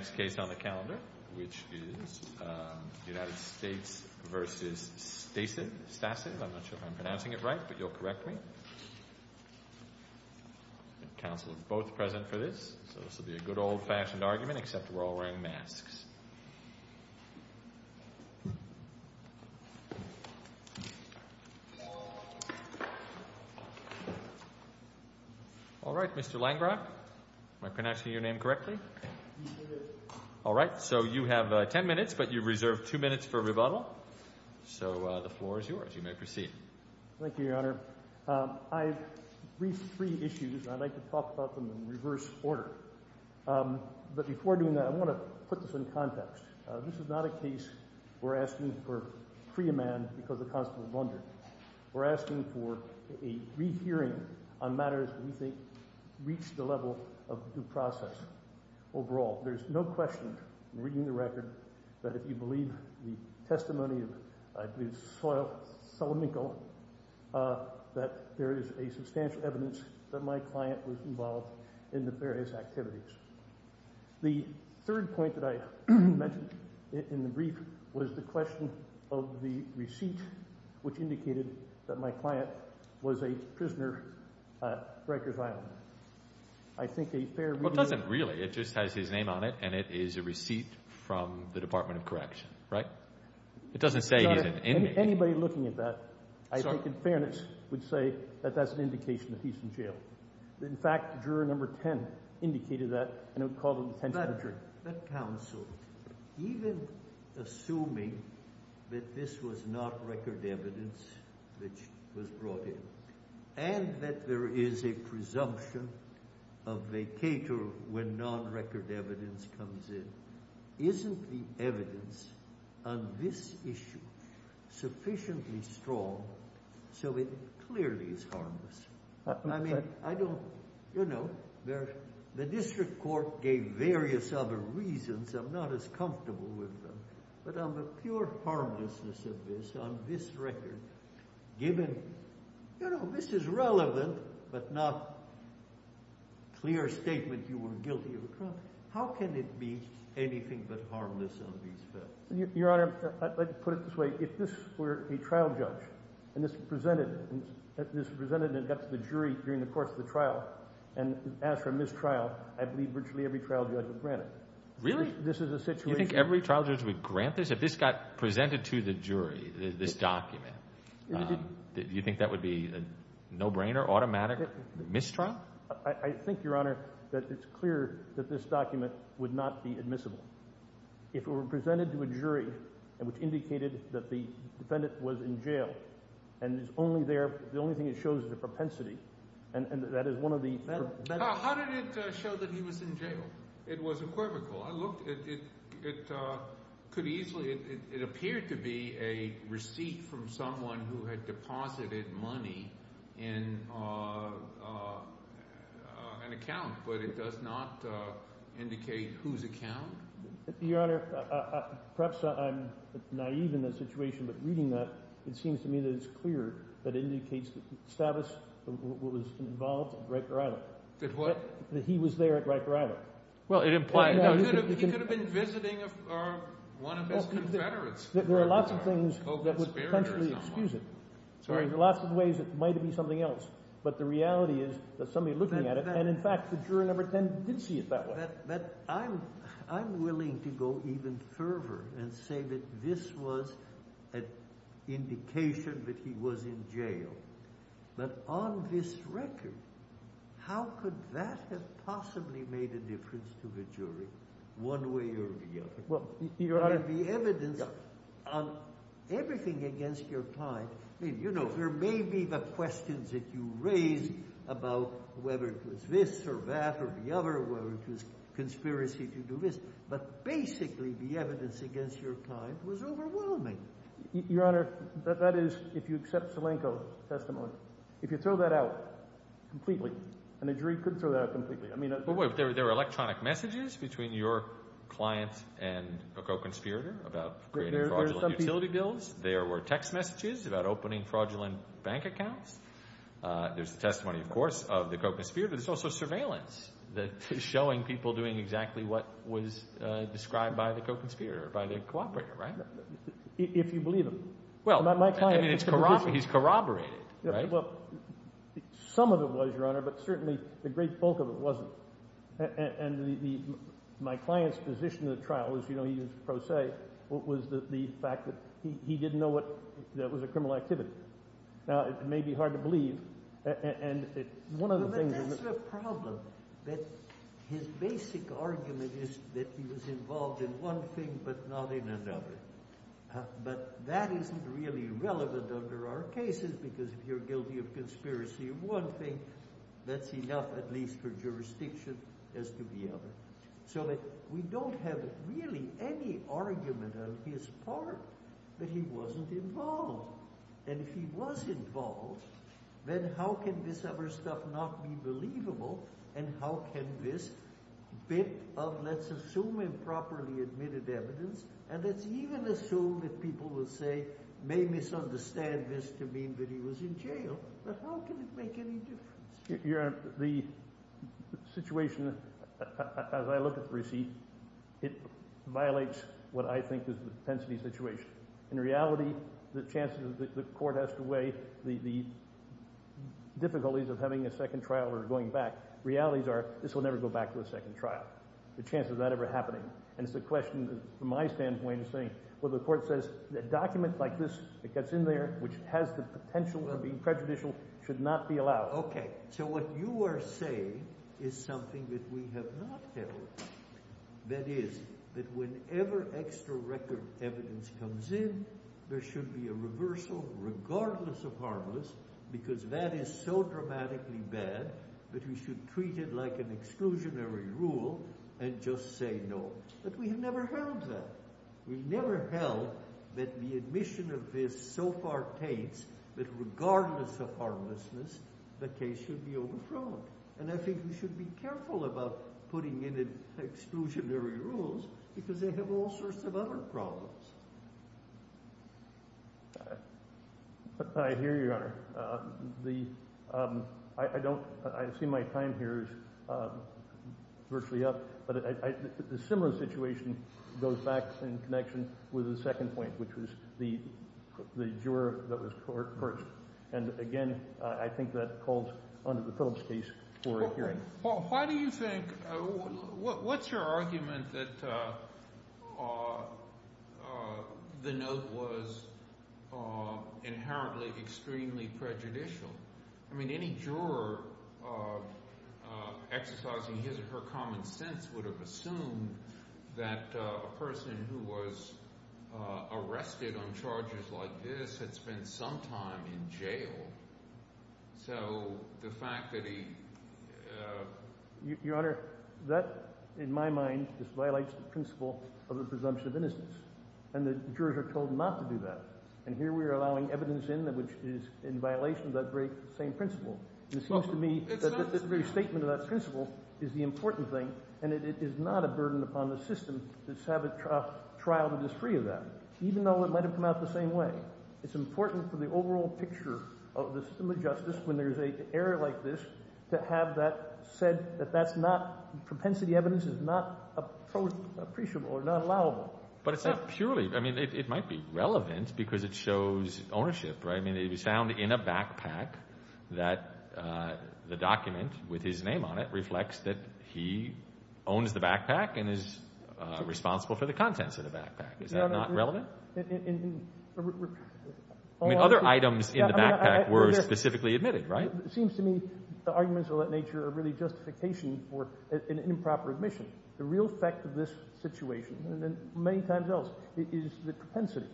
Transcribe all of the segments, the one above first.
I'm not sure if I'm pronouncing it right, but you'll correct me. Council is both present for this, so this will be a good old-fashioned argument except we're all wearing masks. All right, Mr. Langrock, am I pronouncing your name correctly? All right, so you have 10 minutes, but you've reserved 2 minutes for rebuttal. So the floor is yours. You may proceed. Thank you, Your Honor. I've briefed three issues, and I'd like to talk about them in reverse order. But before doing that, I want to put this in context. This is not a case we're asking for free man because of constable Bundy. We're asking for a rehearing on matters we think reach the level of due process. Overall, there's no question in reading the record that if you believe the testimony of Solominko, that there is a substantial evidence that my client was involved in the various activities. The third point that I mentioned in the brief was the question of the receipt, which indicated that my client was a prisoner at Rikers Island. I think a fair reading... Well, it doesn't really. It just has his name on it, and it is a receipt from the Department of Correction, right? It doesn't say he's an inmate. Anybody looking at that, I think in fairness would say that that's an indication that he's in jail. In fact, juror number 10 indicated that, and it would call the detention... But counsel, even assuming that this was not record evidence which was brought in, and that there is a presumption of vacator when non-record evidence comes in, isn't the evidence on this issue sufficiently strong so it clearly is harmless? I mean, I don't... You know, the district court gave various other reasons. I'm not as comfortable with them. But on the pure harmlessness of this, on this record, given... You know, this is relevant, but not a clear statement you were guilty of a crime. How can it be anything but harmless on these facts? Your Honor, I'd like to put it this way. If this were a trial judge and this was presented and got to the jury during the course of the trial and asked for a mistrial, I believe virtually every trial judge would grant it. Really? This is a situation... You think every trial judge would grant this? If this got presented to the jury, this document, do you think that would be a no-brainer, automatic mistrial? I think, Your Honor, that it's clear that this document would not be admissible. If it were presented to a jury which indicated that the defendant was in jail and it's only there, the only thing it shows is a propensity, and that is one of the... How did it show that he was in jail? It was equivocal. I looked. It could easily... It appeared to be a receipt from someone who had deposited money in an account, but it does not indicate whose account. Your Honor, perhaps I'm naive in this situation, but reading that, it seems to me that it's clear that it indicates that Stavis was involved at Riker Island. That what? That he was there at Riker Island. Well, it implies... He could have been visiting one of his confederates. There are lots of things that would potentially excuse it. There are lots of ways it might be something else, but the reality is that somebody looking at it and, in fact, the juror number 10 didn't see it that way. But I'm willing to go even further and say that this was an indication that he was in jail, but on this record, how could that have possibly made a difference to the jury one way or the other? Well, Your Honor... The evidence on everything against your client, I mean, you know, there may be the questions that you raise about whether it was this or that or the other, whether it was conspiracy to do this, but basically the evidence against your client was overwhelming. Your Honor, that is, if you accept Salenko's testimony, if you throw that out completely, and the jury could throw that out completely, I mean... But wait, there were electronic messages between your client and a co-conspirator about creating fraudulent utility bills. There were text messages about opening fraudulent bank accounts. There's the testimony, of course, of the co-conspirator. There's also surveillance showing people doing exactly what was described by the co-conspirator, by the cooperator, right? If you believe him. Well, I mean, he's corroborated, right? Well, some of it was, Your Honor, but certainly the great bulk of it wasn't. And my client's position of the trial was, you know, he used pro se, was the fact that he didn't know that it was a criminal activity. Now, it may be hard to believe, and one of the things... But that's the problem, that his basic argument is that he was involved in one thing but not in another. But that isn't really relevant under our cases, because if you're guilty of conspiracy of one thing, that's enough at least for jurisdiction as to the other. So that we don't have really any argument on his part that he wasn't involved. And if he was involved, then how can this other stuff not be believable, and how can this bit of, let's assume improperly admitted evidence, and let's even assume that people will say, may misunderstand this to mean that he was in jail. But how can it make any difference? Your Honor, the situation, as I look at the receipt, it violates what I think is the intensity situation. In reality, the chances that the court has to weigh the difficulties of having a second trial or going back, realities are this will never go back to a second trial. The chances of that ever happening. And it's a question that, from my standpoint, is saying, well, the court says a document like this that gets in there, which has the potential to be prejudicial, should not be allowed. Okay. So what you are saying is something that we have not held. That is, that whenever extra record evidence comes in, there should be a reversal, regardless of harmless, because that is so dramatically bad that we should treat it like an exclusionary rule and just say no. But we have never held that. We've never held that the admission of this so far taints that regardless of harmlessness, the case should be overthrown. And I think we should be careful about putting in exclusionary rules, because they have all sorts of other problems. I hear you, Your Honor. I don't, I see my time here is virtually up. But a similar situation goes back in connection with the second point, which was the juror that was court-purchased. And, again, I think that holds under the Phillips case for a hearing. Paul, why do you think – what's your argument that the note was inherently extremely prejudicial? I mean any juror exercising his or her common sense would have assumed that a person who was arrested on charges like this had spent some time in jail. So the fact that he – Your Honor, that in my mind just violates the principle of the presumption of innocence, and the jurors are told not to do that. And here we are allowing evidence in that which is in violation of that very same principle. It seems to me that this very statement of that principle is the important thing, and it is not a burden upon the system to have a trial that is free of that, even though it might have come out the same way. It's important for the overall picture of the system of justice when there is an error like this to have that said that that's not – propensity evidence is not appreciable or not allowable. But it's not purely – I mean, it might be relevant because it shows ownership, right? I mean, it was found in a backpack that the document with his name on it reflects that he owns the backpack and is responsible for the contents of the backpack. Is that not relevant? I mean, other items in the backpack were specifically admitted, right? It seems to me the arguments of that nature are really justification for an improper admission. The real effect of this situation and many times else is the propensity.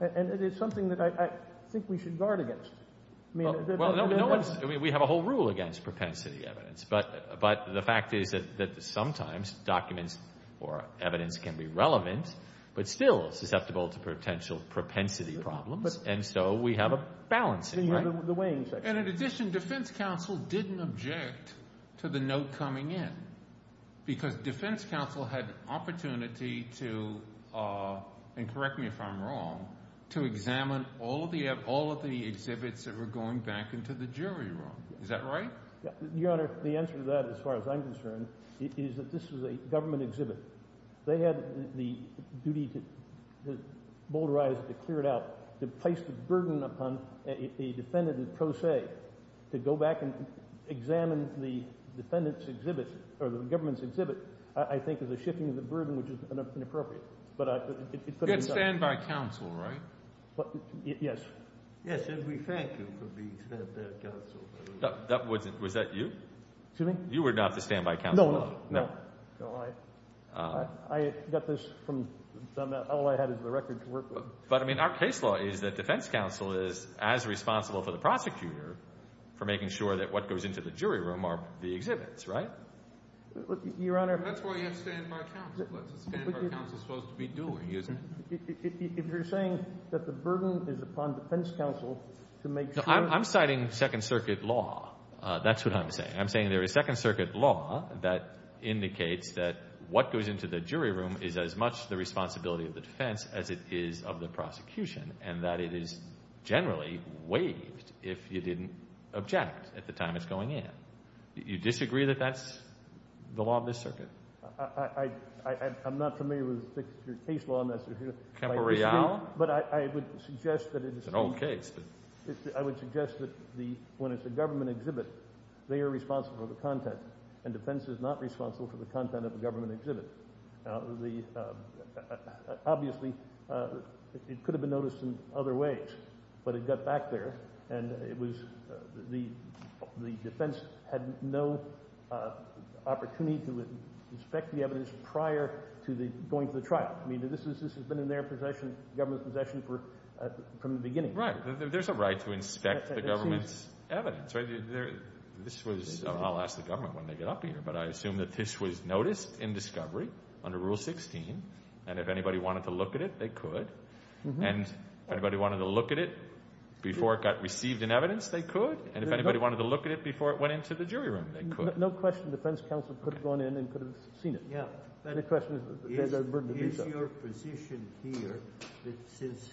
And it is something that I think we should guard against. Well, no one – we have a whole rule against propensity evidence. But the fact is that sometimes documents or evidence can be relevant but still susceptible to potential propensity problems, and so we have a balance in the weighing section. And in addition, defense counsel didn't object to the note coming in because defense counsel had an opportunity to – and correct me if I'm wrong – to examine all of the exhibits that were going back into the jury room. Is that right? Your Honor, the answer to that as far as I'm concerned is that this was a government exhibit. They had the duty to boulderize it, to clear it out, to place the burden upon a defendant in pro se to go back and examine the defendant's exhibit or the government's exhibit, I think is a shifting of the burden, which is inappropriate. You had standby counsel, right? Yes. Yes, and we thank you for being standby counsel. Was that you? Excuse me? You were not the standby counsel? No, no. I got this from – all I had is the record to work with. But, I mean, our case law is that defense counsel is as responsible for the prosecutor for making sure that what goes into the jury room are the exhibits, right? Your Honor – That's why you have standby counsel. That's what standby counsel is supposed to be doing, isn't it? If you're saying that the burden is upon defense counsel to make sure – I'm citing Second Circuit law. That's what I'm saying. I'm saying there is Second Circuit law that indicates that what goes into the jury room is as much the responsibility of the defense as it is of the prosecution, and that it is generally waived if you didn't object at the time it's going in. You disagree that that's the law of this circuit? I'm not familiar with your case law, Mr. – Temporeal? But I would suggest that it is – It's an old case. I would suggest that the – when it's a government exhibit, they are responsible for the content, and defense is not responsible for the content of a government exhibit. Now, the – obviously, it could have been noticed in other ways, but it got back there, and it was – the defense had no opportunity to inspect the evidence prior to the – going to the trial. I mean, this has been in their possession, government's possession for – from the beginning. Right. There's a right to inspect the government's evidence, right? This was – I'll ask the government when they get up here, but I assume that this was noticed in discovery under Rule 16, and if anybody wanted to look at it, they could. And if anybody wanted to look at it before it got received in evidence, they could. And if anybody wanted to look at it before it went into the jury room, they could. No question the defense counsel could have gone in and could have seen it. Yeah. Is your position here that since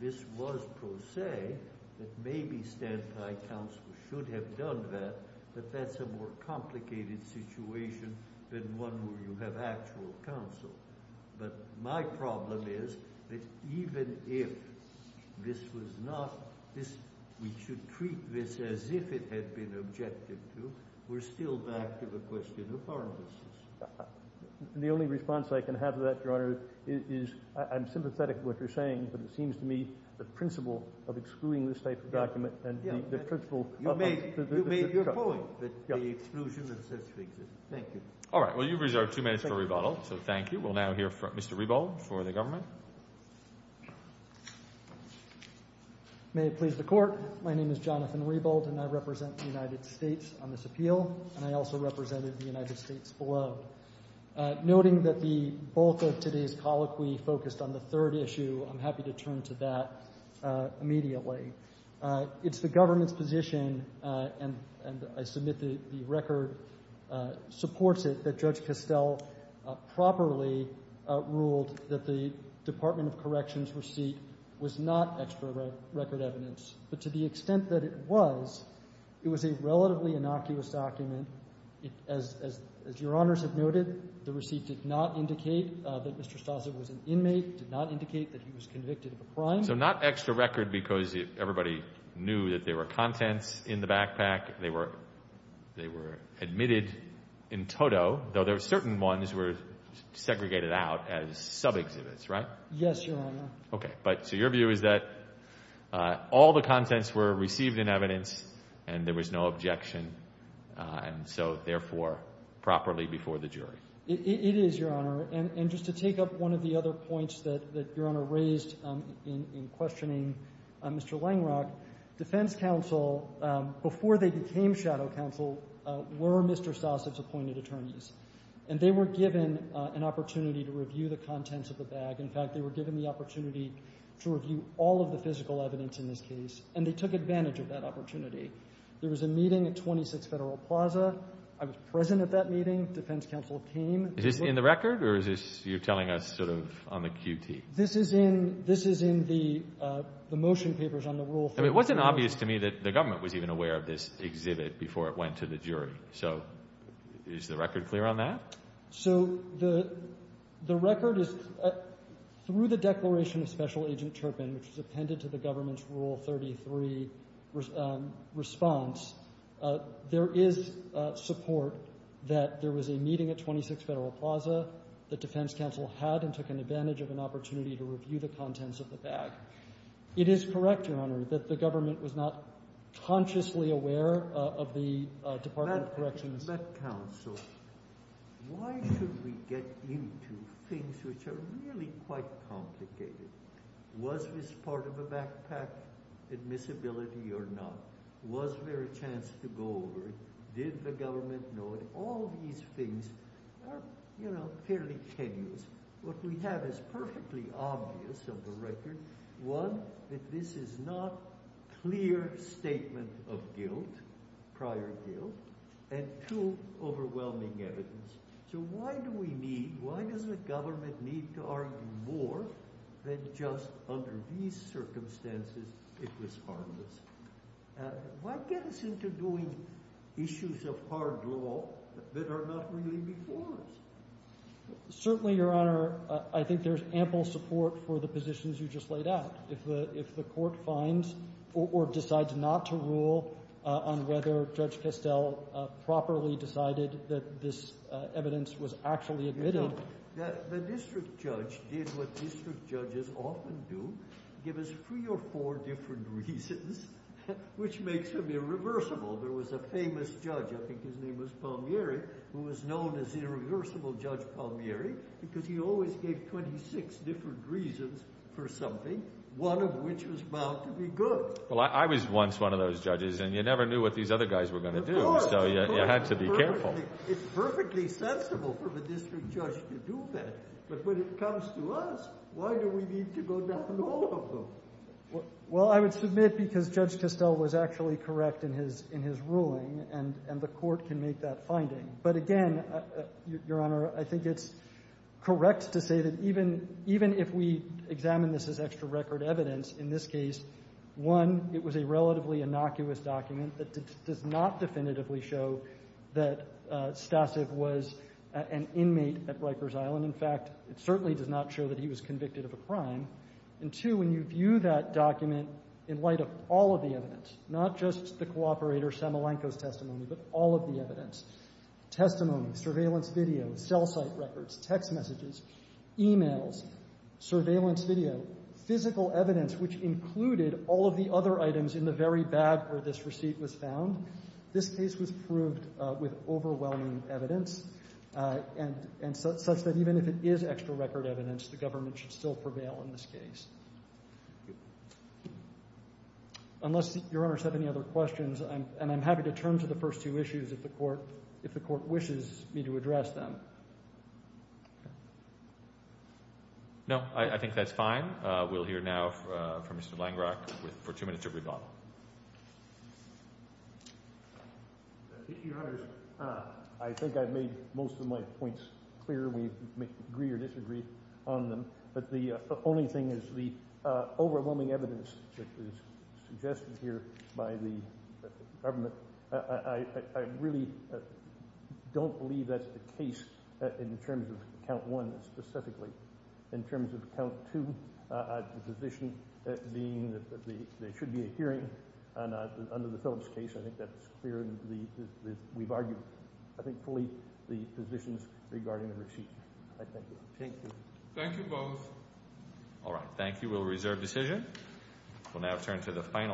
this was pro se, that maybe stand-by counsel should have done that, but that's a more complicated situation than one where you have actual counsel? But my problem is that even if this was not – we should treat this as if it had been objected to, we're still back to the question of harmlessness. The only response I can have to that, Your Honor, is I'm sympathetic to what you're saying, but it seems to me the principle of excluding this type of document and the principle of – You made your point that the exclusion of the certificate exists. Thank you. All right. Well, you've reserved two minutes for rebuttal, so thank you. We'll now hear from Mr. Rebold for the government. May it please the Court. My name is Jonathan Rebold, and I represent the United States on this appeal, and I also represented the United States below. Noting that the bulk of today's colloquy focused on the third issue, I'm happy to turn to that immediately. It's the government's position, and I submit that the record supports it, that Judge Castell properly ruled that the Department of Corrections receipt was not extra record evidence. But to the extent that it was, it was a relatively innocuous document. As Your Honors have noted, the receipt did not indicate that Mr. Stossett was an inmate, did not indicate that he was convicted of a crime. So not extra record because everybody knew that there were contents in the backpack. They were admitted in toto, though there were certain ones that were segregated out as sub-exhibits, right? Yes, Your Honor. Okay. So your view is that all the contents were received in evidence and there was no objection, and so, therefore, properly before the jury. It is, Your Honor. And just to take up one of the other points that Your Honor raised in questioning Mr. Langrock, defense counsel, before they became shadow counsel, were Mr. Stossett's appointed attorneys, and they were given an opportunity to review the contents of the bag. In fact, they were given the opportunity to review all of the physical evidence in this case, and they took advantage of that opportunity. There was a meeting at 26 Federal Plaza. I was present at that meeting. Defense counsel came. Is this in the record, or is this you're telling us sort of on the QT? This is in the motion papers on the Rule 33. It wasn't obvious to me that the government was even aware of this exhibit before it went to the jury. So is the record clear on that? So the record is through the declaration of Special Agent Turpin, which was appended to the government's Rule 33 response, there is support that there was a meeting at 26 Federal Plaza that defense counsel had and took advantage of an opportunity to review the contents of the bag. It is correct, Your Honor, that the government was not consciously aware of the Department of Corrections. But, counsel, why should we get into things which are really quite complicated? Was this part of a backpack admissibility or not? Was there a chance to go over it? Did the government know it? All these things are, you know, fairly tenuous. What we have is perfectly obvious of the record. One, that this is not a clear statement of guilt, prior guilt, and two, overwhelming evidence. So why do we need, why does the government need to argue more than just under these circumstances it was harmless? Why get us into doing issues of hard law that are not really before us? Certainly, Your Honor, I think there's ample support for the positions you just laid out. If the court finds or decides not to rule on whether Judge Castell properly decided that this evidence was actually admitted. The district judge did what district judges often do, give us three or four different reasons, which makes him irreversible. There was a famous judge, I think his name was Palmieri, who was known as the irreversible Judge Palmieri because he always gave 26 different reasons for something, one of which was bound to be good. Well, I was once one of those judges and you never knew what these other guys were going to do. So you had to be careful. It's perfectly sensible for the district judge to do that. But when it comes to us, why do we need to go down all of them? Well, I would submit because Judge Castell was actually correct in his ruling and the court can make that finding. But again, Your Honor, I think it's correct to say that even if we examine this as extra record evidence, in this case, one, it was a relatively innocuous document that does not definitively show that Stasiv was an inmate at Rikers Island. In fact, it certainly does not show that he was convicted of a crime. And two, when you view that document in light of all of the evidence, not just the cooperator Samalenko's testimony, but all of the evidence, testimony, surveillance video, cell site records, text messages, e-mails, surveillance video, physical evidence which included all of the other items in the very bag where this receipt was found, this case was proved with overwhelming evidence and such that even if it is extra record evidence, the government should still prevail in this case. Unless Your Honor has any other questions, and I'm happy to turn to the first two issues if the court wishes me to address them. No, I think that's fine. We'll hear now from Mr. Langrock for two minutes of rebuttal. Thank you, Your Honors. I think I've made most of my points clear. We agree or disagree on them. But the only thing is the overwhelming evidence that is suggested here by the government, I really don't believe that's the case in terms of count one specifically. In terms of count two, the position being that there should be a hearing, and under the Phillips case, I think that's clear. We've argued, I think, fully the positions regarding the receipt. Thank you. Thank you both. All right, thank you. We'll reserve decision.